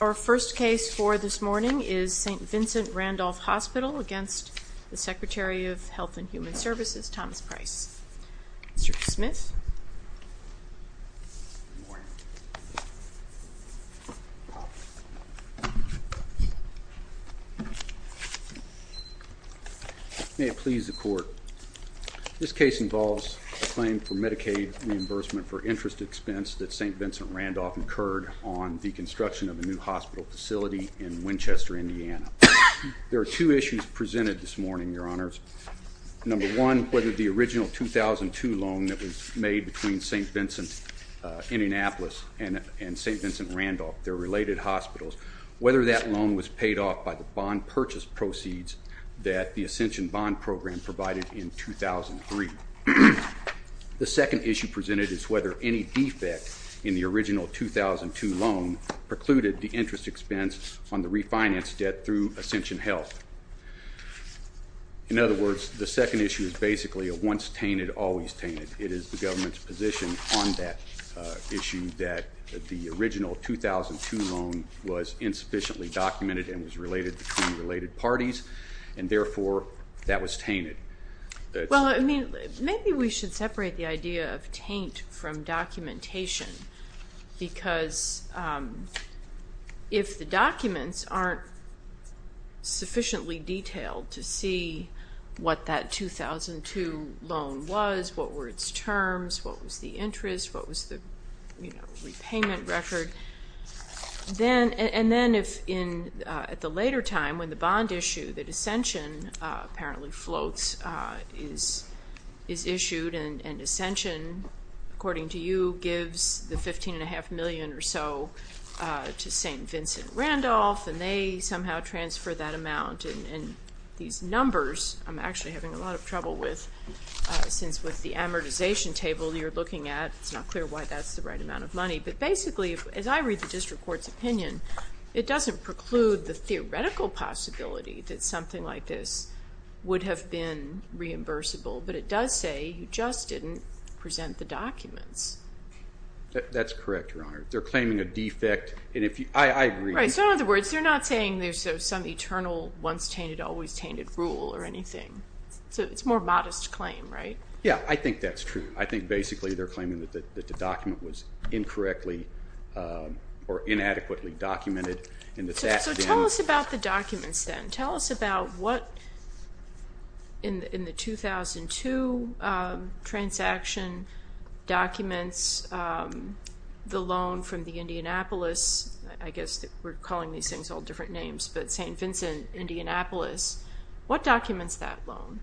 Our first case for this morning is St. Vincent Randolph Hospital v. Secretary of Health and Human Services, Thomas Price. Mr. Smith. This case involves a claim for Medicaid reimbursement for interest expense that St. Vincent Randolph incurred on the construction of a new hospital facility in Winchester, Indiana. There are two issues presented this morning, Your Honors. Number one, whether the original 2002 loan that was made between St. Vincent, Indianapolis and St. Vincent Randolph, their related hospitals, whether that loan was paid off by the bond purchase proceeds that the Ascension Bond Program provided in 2003. The second issue presented is whether any defect in the original 2002 loan precluded the interest expense on the refinance debt through Ascension Health. In other words, the second issue is basically a once-tainted, always-tainted. It is the government's position on that issue that the original 2002 loan was insufficiently documented and was related between related parties, and therefore that was tainted. Well, maybe we should separate the idea of taint from documentation because if the documents aren't sufficiently detailed to see what that 2002 loan was, what were its terms, what was the interest, what was the repayment record, and then if at the later time when the bond issue, the Ascension apparently floats, is issued and Ascension, according to you, gives the $15.5 million or so to St. Vincent Randolph and they somehow transfer that amount, and these numbers I'm actually having a lot of trouble with since with the amortization table you're looking at it's not clear why that's the right amount of money, but basically as I read the district court's opinion, it doesn't preclude the theoretical possibility that something like this would have been reimbursable, but it does say you just didn't present the documents. That's correct, Your Honor. They're claiming a defect, and I agree. Right, so in other words, they're not saying there's some eternal once-tainted, always-tainted rule or anything. So it's a more modest claim, right? Yeah, I think that's true. I think basically they're claiming that the document was incorrectly or inadequately documented. So tell us about the documents then. Tell us about what in the 2002 transaction documents the loan from the Indianapolis, I guess we're calling these things all different names, but St. Vincent Indianapolis, what documents that loan?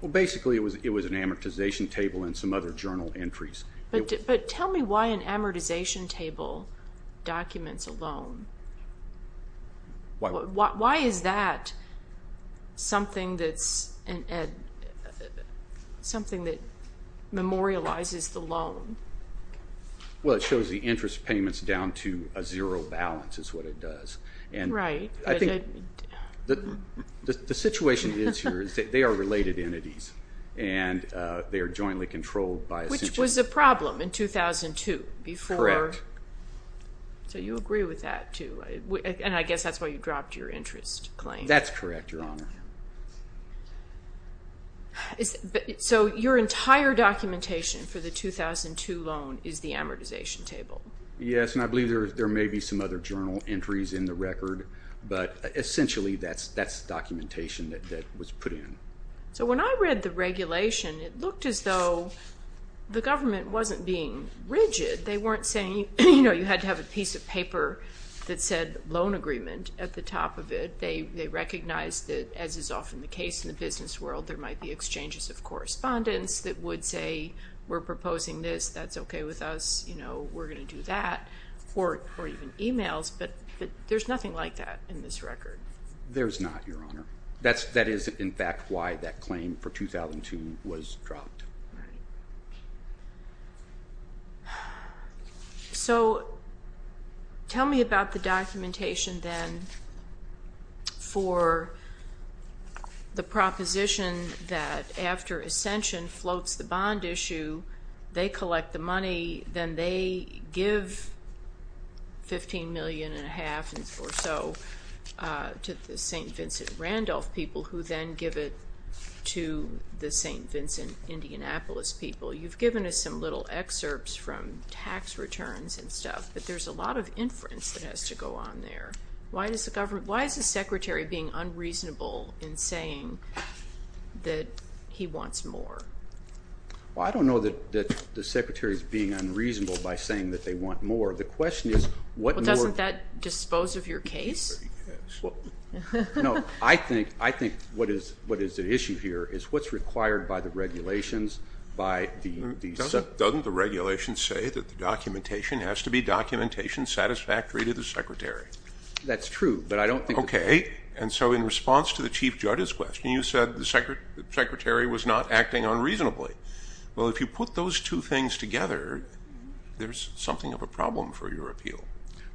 Well, basically it was an amortization table and some other journal entries. But tell me why an amortization table documents a loan. Why is that something that memorializes the loan? Well, it shows the interest payments down to a zero balance is what it does. Right. I think the situation is here is that they are related entities, and they are jointly controlled by a central bank. Which was a problem in 2002 before. Correct. So you agree with that too, and I guess that's why you dropped your interest claim. That's correct, Your Honor. So your entire documentation for the 2002 loan is the amortization table? Yes, and I believe there may be some other journal entries in the record, but essentially that's documentation that was put in. So when I read the regulation, it looked as though the government wasn't being rigid. They weren't saying, you know, you had to have a piece of paper that said loan agreement at the top of it. They recognized that, as is often the case in the business world, there might be exchanges of correspondence that would say, we're proposing this, that's okay with us, you know, we're going to do that. Or even emails, but there's nothing like that in this record. There's not, Your Honor. That is, in fact, why that claim for 2002 was dropped. All right. So tell me about the documentation then for the proposition that after Ascension floats the bond issue, they collect the money, then they give $15 million and a half or so to the St. Vincent Randolph people, who then give it to the St. Vincent Indianapolis people. You've given us some little excerpts from tax returns and stuff, but there's a lot of inference that has to go on there. Why is the Secretary being unreasonable in saying that he wants more? Well, I don't know that the Secretary is being unreasonable by saying that they want more. The question is what more – Well, doesn't that dispose of your case? No, I think what is at issue here is what's required by the regulations, by the – Doesn't the regulations say that the documentation has to be documentation satisfactory to the Secretary? That's true, but I don't think – Okay. And so in response to the Chief Judge's question, you said the Secretary was not acting unreasonably. Well, if you put those two things together, there's something of a problem for your appeal.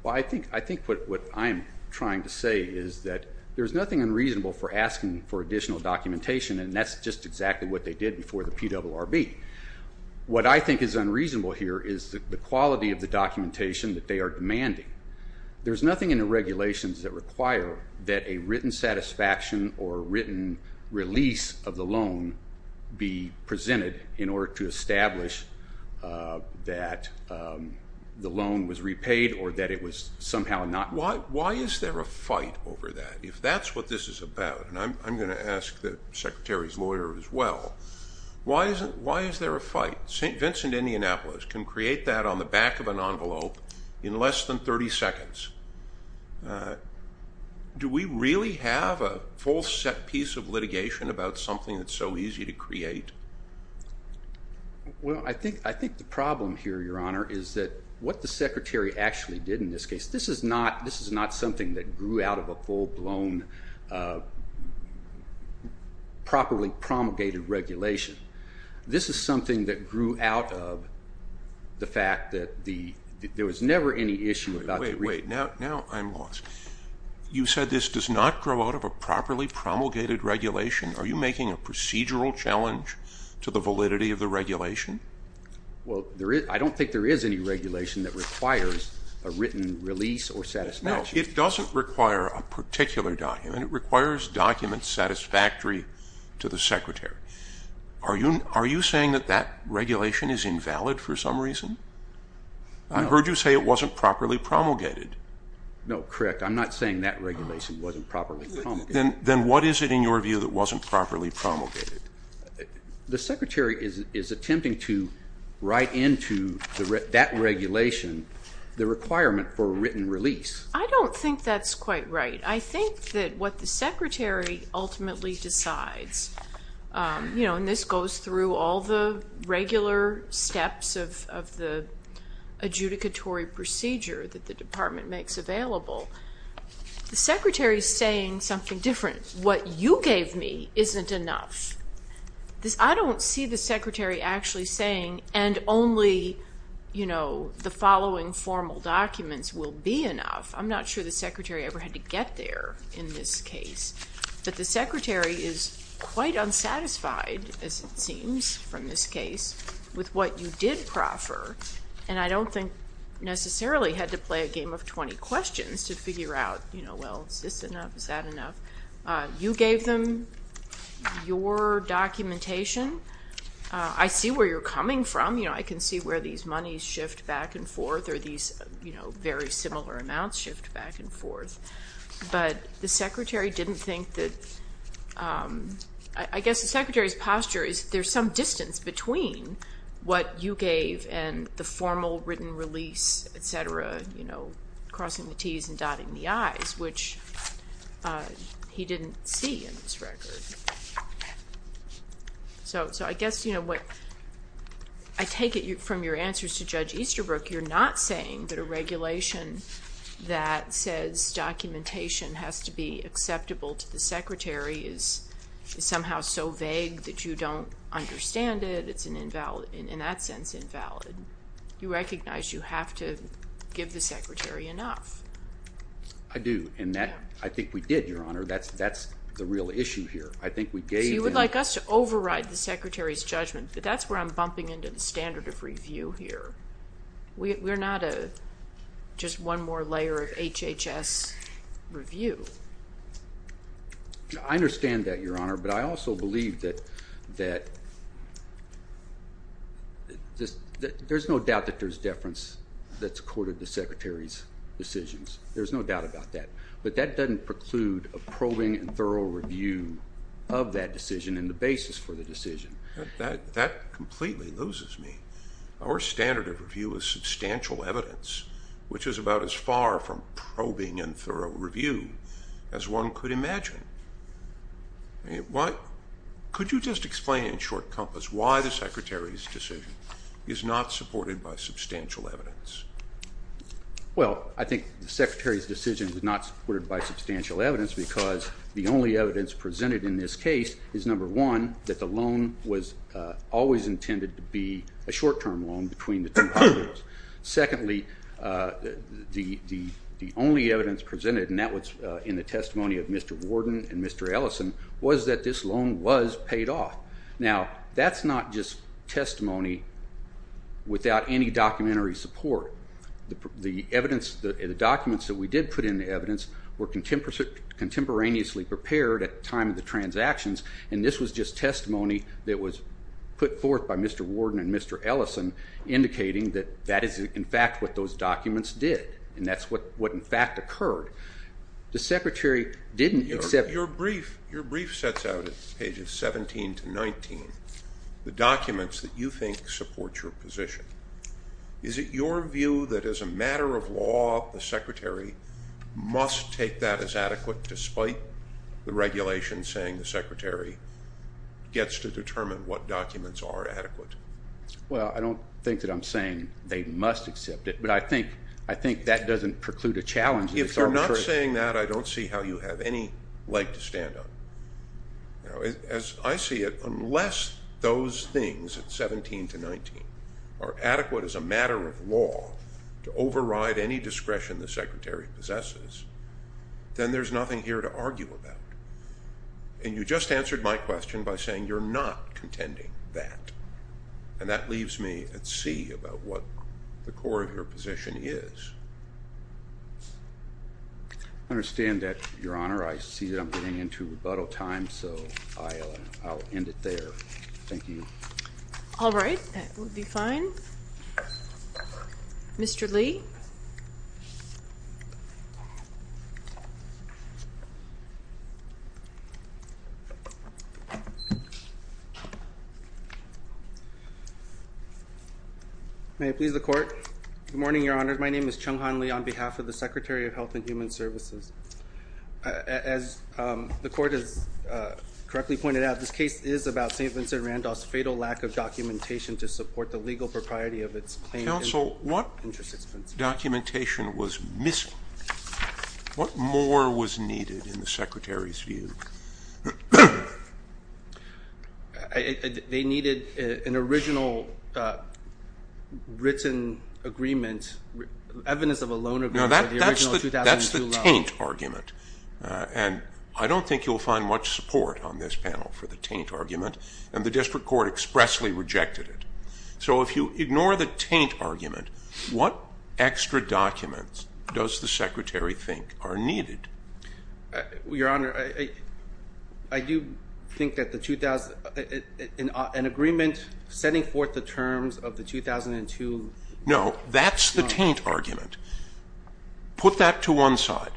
Well, I think what I'm trying to say is that there's nothing unreasonable for asking for additional documentation, and that's just exactly what they did before the PRRB. What I think is unreasonable here is the quality of the documentation that they are demanding. There's nothing in the regulations that require that a written satisfaction or a written release of the loan be presented in order to establish that the loan was repaid or that it was somehow not – Why is there a fight over that if that's what this is about? And I'm going to ask the Secretary's lawyer as well. Why is there a fight? St. Vincent, Indianapolis can create that on the back of an envelope in less than 30 seconds. Do we really have a full set piece of litigation about something that's so easy to create? Well, I think the problem here, Your Honor, is that what the Secretary actually did in this case, this is not something that grew out of a full-blown, properly promulgated regulation. This is something that grew out of the fact that there was never any issue about the – Wait, wait. Now I'm lost. You said this does not grow out of a properly promulgated regulation. Are you making a procedural challenge to the validity of the regulation? Well, I don't think there is any regulation that requires a written release or satisfaction. No, it doesn't require a particular document. And it requires documents satisfactory to the Secretary. Are you saying that that regulation is invalid for some reason? I heard you say it wasn't properly promulgated. No, correct. I'm not saying that regulation wasn't properly promulgated. Then what is it in your view that wasn't properly promulgated? The Secretary is attempting to write into that regulation the requirement for a written release. I don't think that's quite right. I think that what the Secretary ultimately decides – and this goes through all the regular steps of the adjudicatory procedure that the Department makes available. The Secretary is saying something different. What you gave me isn't enough. I don't see the Secretary actually saying, and only the following formal documents will be enough. I'm not sure the Secretary ever had to get there in this case. But the Secretary is quite unsatisfied, as it seems from this case, with what you did proffer. And I don't think necessarily had to play a game of 20 questions to figure out, well, is this enough? Is that enough? You gave them your documentation. I see where you're coming from. I can see where these monies shift back and forth or these very similar amounts shift back and forth. But the Secretary didn't think that – I guess the Secretary's posture is there's some distance between what you gave and the formal written release, et cetera, crossing the Ts and dotting the Is, which he didn't see in this record. So I guess what – I take it from your answers to Judge Easterbrook, you're not saying that a regulation that says documentation has to be acceptable to the Secretary is somehow so vague that you don't understand it. It's, in that sense, invalid. You recognize you have to give the Secretary enough. I do, and I think we did, Your Honor. That's the real issue here. I think we gave him – So you would like us to override the Secretary's judgment. But that's where I'm bumping into the standard of review here. We're not just one more layer of HHS review. I understand that, Your Honor. But I also believe that there's no doubt that there's deference that's accorded to the Secretary's decisions. There's no doubt about that. But that doesn't preclude a probing and thorough review of that decision and the basis for the decision. That completely loses me. Our standard of review is substantial evidence, which is about as far from probing and thorough review as one could imagine. Could you just explain in short compass why the Secretary's decision is not supported by substantial evidence? Well, I think the Secretary's decision is not supported by substantial evidence because the only evidence presented in this case is, number one, that the loan was always intended to be a short-term loan between the two parties. Secondly, the only evidence presented, and that was in the testimony of Mr. Warden and Mr. Ellison, was that this loan was paid off. Now, that's not just testimony without any documentary support. The documents that we did put in the evidence were contemporaneously prepared at the time of the transactions, and this was just testimony that was put forth by Mr. Warden and Mr. Ellison, indicating that that is, in fact, what those documents did. And that's what, in fact, occurred. The Secretary didn't accept Your brief sets out, at pages 17 to 19, the documents that you think support your position. Well, I don't think that I'm saying they must accept it, but I think that doesn't preclude a challenge. If you're not saying that, I don't see how you have any leg to stand on. As I see it, unless those things at 17 to 19 are adequate as a matter of law to override any discretion the Secretary possesses, then there's nothing here to argue about. And you just answered my question by saying you're not contending that, and that leaves me at sea about what the core of your position is. I understand that, Your Honor. I see that I'm getting into rebuttal time, so I'll end it there. Thank you. All right. That would be fine. Mr. Lee. May it please the Court. Good morning, Your Honor. My name is Chung Han Lee on behalf of the Secretary of Health and Human Services. As the Court has correctly pointed out, this case is about St. Vincent Randolph's fatal lack of documentation to support the legal propriety of its claim. Counsel, what documentation was missing? What more was needed in the Secretary's view? They needed an original written agreement, evidence of a loan agreement for the original 2002 loan. Now, that's the taint argument, and I don't think you'll find much support on this panel for the taint argument, and the District Court expressly rejected it. So if you ignore the taint argument, what extra documents does the Secretary think are needed? Your Honor, I do think that an agreement setting forth the terms of the 2002 loan. No, that's the taint argument. Put that to one side.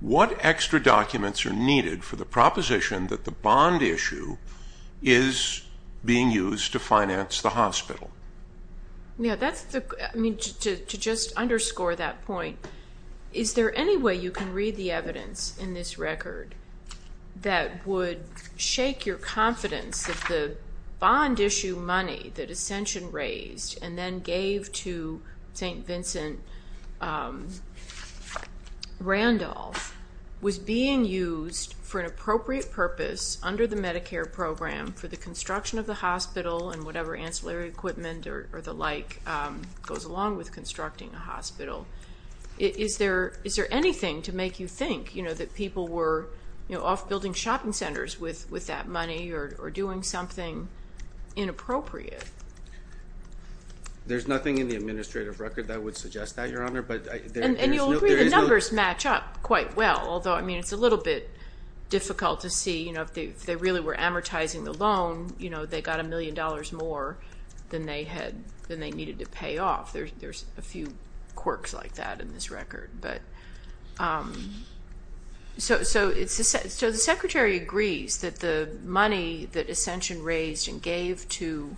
What extra documents are needed for the proposition that the bond issue is being used to finance the hospital? To just underscore that point, is there any way you can read the evidence in this record that would shake your confidence that the bond issue money that Ascension raised and then gave to St. Vincent Randolph was being used for an appropriate purpose under the Medicare program for the construction of the hospital and whatever ancillary equipment or the like goes along with constructing a hospital? Is there anything to make you think that people were off building shopping centers with that money or doing something inappropriate? There's nothing in the administrative record that would suggest that, Your Honor. And you'll agree the numbers match up quite well, although it's a little bit difficult to see if they really were amortizing the loan. They got a million dollars more than they needed to pay off. There's a few quirks like that in this record. So the Secretary agrees that the money that Ascension raised and gave to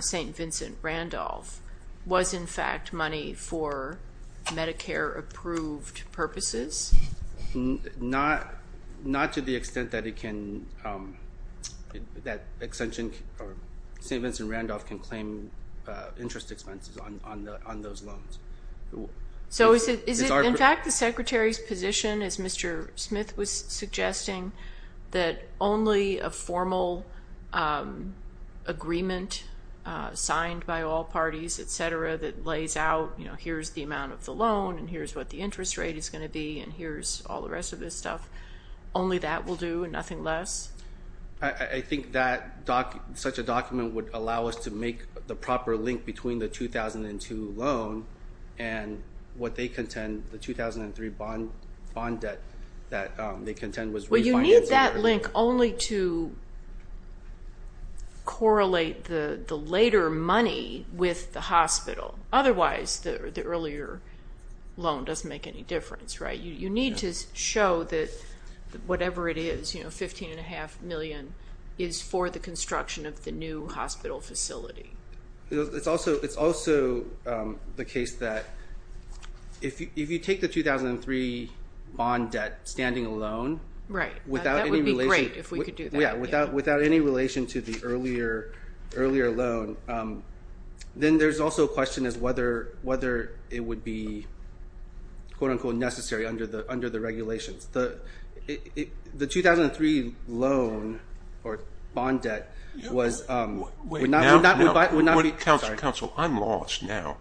St. Vincent Randolph was, in fact, money for Medicare-approved purposes? Not to the extent that St. Vincent Randolph can claim interest expenses on those loans. So is it, in fact, the Secretary's position, as Mr. Smith was suggesting, that only a formal agreement signed by all parties, et cetera, that lays out, you know, here's the amount of the loan and here's what the interest rate is going to be and here's all the rest of this stuff, only that will do and nothing less? I think that such a document would allow us to make the proper link between the 2002 loan and what they contend, the 2003 bond debt that they contend was refinanced. Well, you need that link only to correlate the later money with the hospital. Otherwise, the earlier loan doesn't make any difference, right? You need to show that whatever it is, you know, $15.5 million, is for the construction of the new hospital facility. It's also the case that if you take the 2003 bond debt standing alone without any relation to the earlier loan, then there's also a question as to whether it would be, quote, unquote, necessary under the regulations. The 2003 loan or bond debt would not be. Counsel, I'm lost now.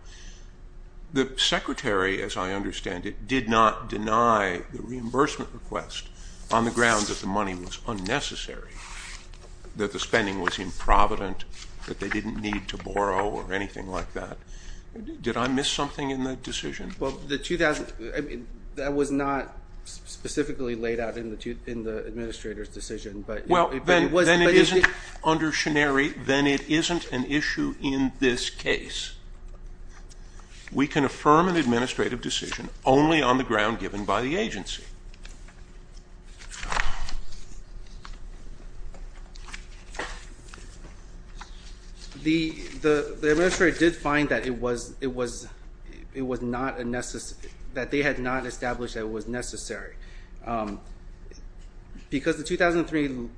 The Secretary, as I understand it, did not deny the reimbursement request on the grounds that the money was unnecessary, that the spending was improvident, that they didn't need to borrow or anything like that. Did I miss something in that decision? Well, the 2000, I mean, that was not specifically laid out in the administrator's decision, but it was. Well, then it isn't under shenari, then it isn't an issue in this case. We can affirm an administrative decision only on the ground given by the agency. The administrator did find that it was not a necessary, that they had not established that it was necessary. Because the 2003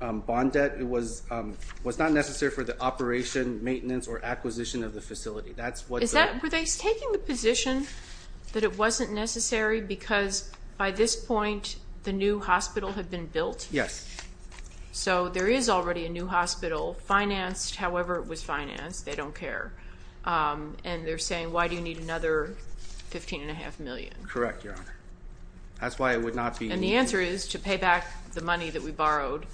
bond debt was not necessary for the operation, maintenance, or acquisition of the facility. Were they taking the position that it wasn't necessary because by this point the new hospital had been built? Yes. So there is already a new hospital financed however it was financed. They don't care. And they're saying, why do you need another $15.5 million? Correct, Your Honor. That's why it would not be. And the answer is to pay back the money that we borrowed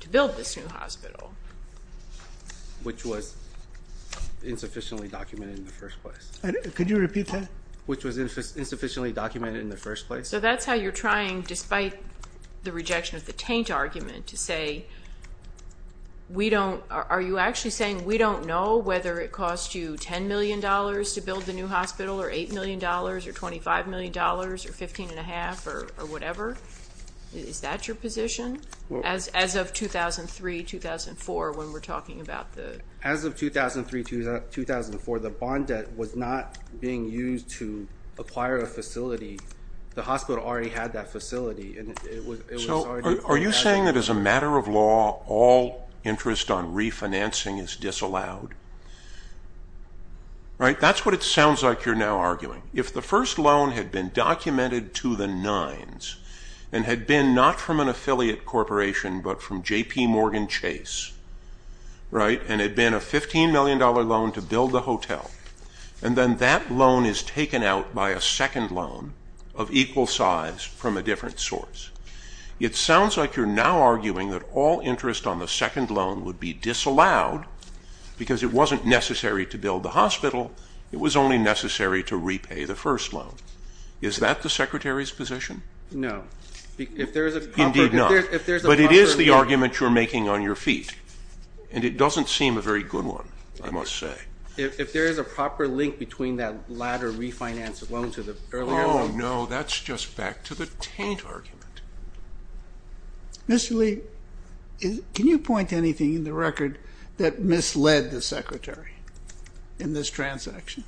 to build this new hospital. Which was insufficiently documented in the first place. Could you repeat that? Which was insufficiently documented in the first place. So that's how you're trying despite the rejection of the taint argument to say, are you actually saying we don't know whether it cost you $10 million to build the new hospital, or $8 million, or $25 million, or $15.5 million, or whatever? Is that your position? As of 2003-2004 when we're talking about the As of 2003-2004 the bond debt was not being used to acquire a facility. The hospital already had that facility. So are you saying that as a matter of law all interest on refinancing is disallowed? That's what it sounds like you're now arguing. If the first loan had been documented to the nines and had been not from an affiliate corporation but from JPMorgan Chase, and had been a $15 million loan to build the hotel, and then that loan is taken out by a second loan of equal size from a different source, it sounds like you're now arguing that all interest on the second loan would be disallowed because it wasn't necessary to build the hospital. It was only necessary to repay the first loan. Is that the Secretary's position? No. Indeed not. But it is the argument you're making on your feet, and it doesn't seem a very good one, I must say. If there is a proper link between that latter refinance loan to the earlier loan. Oh, no, that's just back to the taint argument. Mr. Lee, can you point to anything in the record that misled the Secretary in this transaction?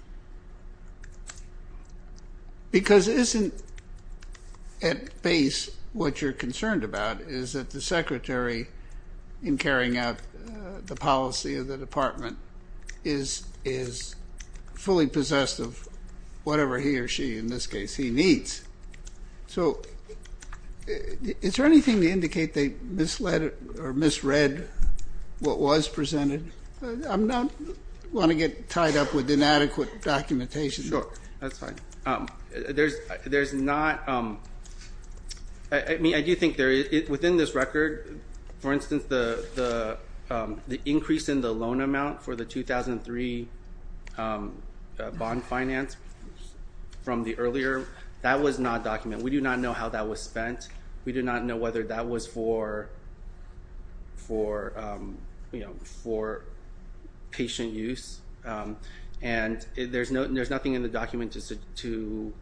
Because isn't at base what you're concerned about is that the Secretary, in carrying out the policy of the department, is fully possessed of whatever he or she, in this case, he needs. So is there anything to indicate they misled or misread what was presented? I don't want to get tied up with inadequate documentation. Sure, that's fine. There's not, I do think within this record, for instance, the increase in the loan amount for the 2003 bond finance from the earlier, that was not documented. We do not know how that was spent. We do not know whether that was for patient use. And there's nothing in the document to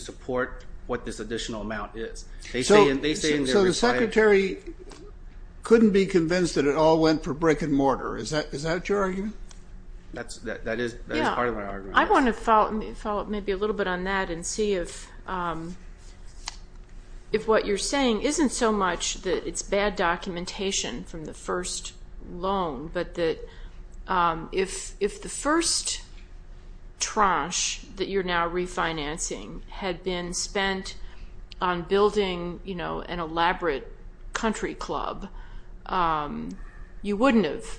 support what this additional amount is. So the Secretary couldn't be convinced that it all went for brick and mortar. Is that your argument? That is part of my argument. I want to follow up maybe a little bit on that and see if what you're saying isn't so much that it's bad documentation from the first loan, but that if the first tranche that you're now refinancing had been spent on building an elaborate country club, you wouldn't have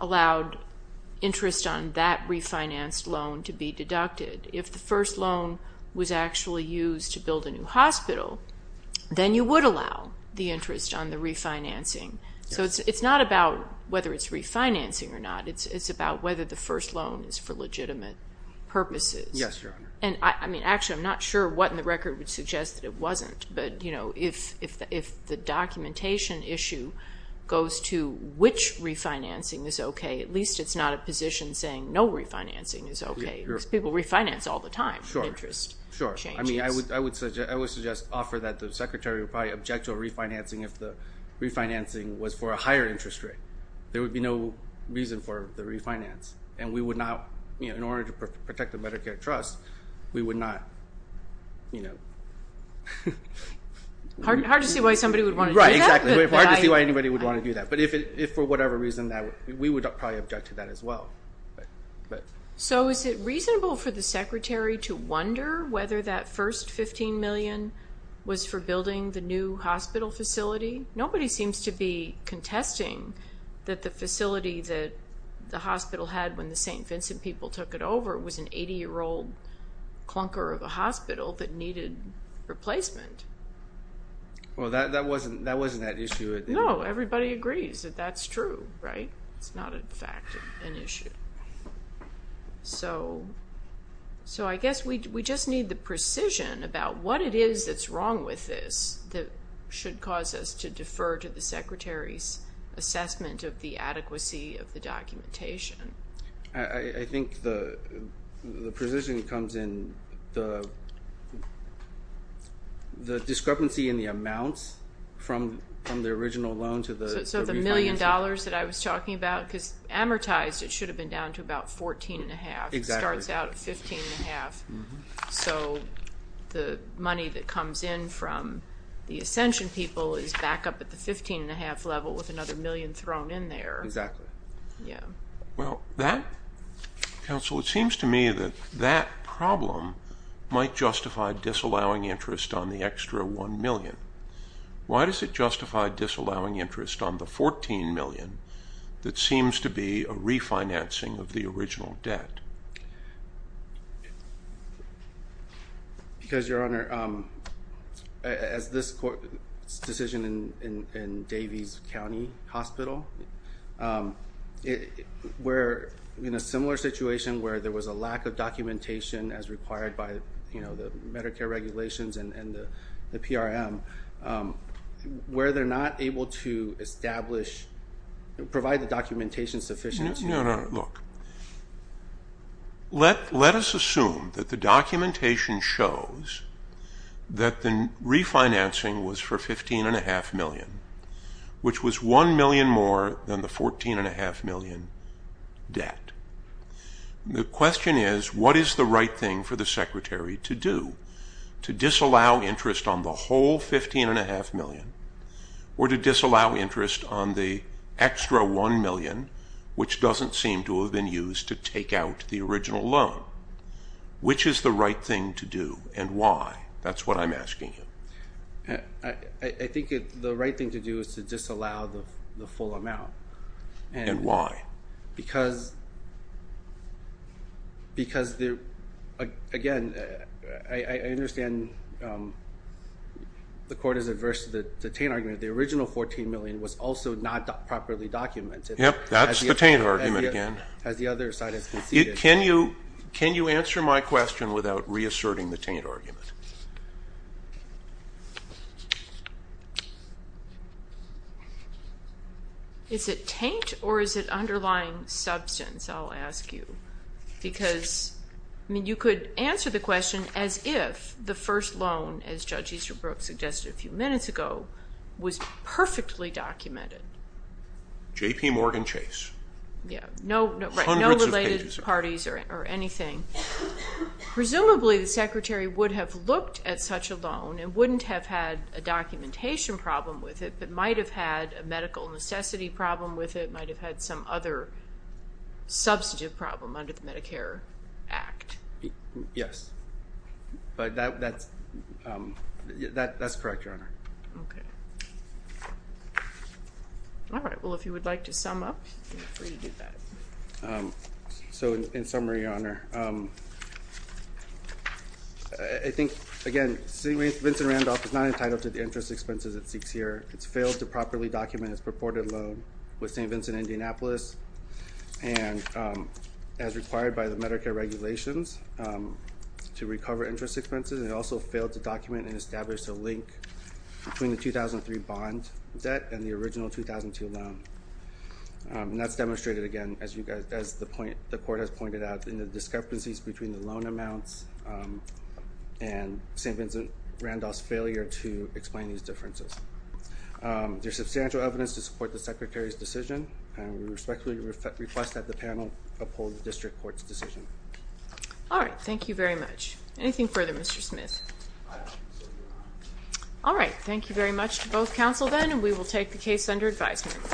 allowed interest on that refinanced loan to be deducted. If the first loan was actually used to build a new hospital, then you would allow the interest on the refinancing. So it's not about whether it's refinancing or not. It's about whether the first loan is for legitimate purposes. Yes, Your Honor. Actually, I'm not sure what in the record would suggest that it wasn't. But if the documentation issue goes to which refinancing is okay, at least it's not a position saying no refinancing is okay. Because people refinance all the time for interest changes. Sure. I mean, I would suggest offer that the Secretary would probably object to a refinancing if the refinancing was for a higher interest rate. There would be no reason for the refinance. And we would not, in order to protect the Medicare trust, we would not, you know. Hard to see why somebody would want to do that. Right, exactly. Hard to see why anybody would want to do that. But if for whatever reason, we would probably object to that as well. So is it reasonable for the Secretary to wonder whether that first $15 million was for building the new hospital facility? Nobody seems to be contesting that the facility that the hospital had when the St. Vincent people took it over was an 80-year-old clunker of a hospital that needed replacement. Well, that wasn't that issue. No, everybody agrees that that's true, right? It's not, in fact, an issue. So I guess we just need the precision about what it is that's wrong with this that should cause us to defer to the Secretary's assessment of the adequacy of the documentation. I think the precision comes in the discrepancy in the amounts from the original loan to the refinancing. So the $1 million that I was talking about, because amortized, it should have been down to about $14.5. Exactly. It starts out at $15.5. So the money that comes in from the Ascension people is back up at the $15.5 level with another million thrown in there. Exactly. Yeah. Well, that, Counsel, it seems to me that that problem might justify disallowing interest on the extra $1 million. Why does it justify disallowing interest on the $14 million that seems to be a refinancing of the original debt? Because, Your Honor, as this court's decision in Davies County Hospital, we're in a similar situation where there was a lack of documentation as required by the Medicare regulations and the PRM, where they're not able to establish or provide the documentation sufficient. No, no, no. Look, let us assume that the documentation shows that the refinancing was for $15.5 million, which was $1 million more than the $14.5 million debt. The question is, what is the right thing for the Secretary to do to disallow interest on the whole $15.5 million or to disallow interest on the extra $1 million, which doesn't seem to have been used to take out the original loan? Which is the right thing to do and why? That's what I'm asking you. I think the right thing to do is to disallow the full amount. And why? Because, again, I understand the court is adverse to the taint argument. The original $14 million was also not properly documented. Yep, that's the taint argument again. As the other side has conceded. Can you answer my question without reasserting the taint argument? Is it taint or is it underlying substance, I'll ask you? Because, I mean, you could answer the question as if the first loan, as Judge Easterbrook suggested a few minutes ago, was perfectly documented. J.P. Morgan Chase. Yeah, right, no related parties or anything. Presumably the Secretary would have looked at such a loan and wouldn't have had a documentation problem with it, but might have had a medical necessity problem with it, might have had some other substantive problem under the Medicare Act. Yes, that's correct, Your Honor. Okay. All right, well, if you would like to sum up, feel free to do that. So, in summary, Your Honor, I think, again, St. Vincent Randolph is not entitled to the interest expenses it seeks here. It's failed to properly document its purported loan with St. Vincent, Indianapolis, and as required by the Medicare regulations, to recover interest expenses. It also failed to document and establish a link between the 2003 bond debt and the original 2002 loan. And that's demonstrated, again, as the Court has pointed out, in the discrepancies between the loan amounts and St. Vincent Randolph's failure to explain these differences. There's substantial evidence to support the Secretary's decision, and we respectfully request that the panel uphold the District Court's decision. All right, thank you very much. Anything further, Mr. Smith? All right, thank you very much to both counsel, then, and we will take the case under advisement.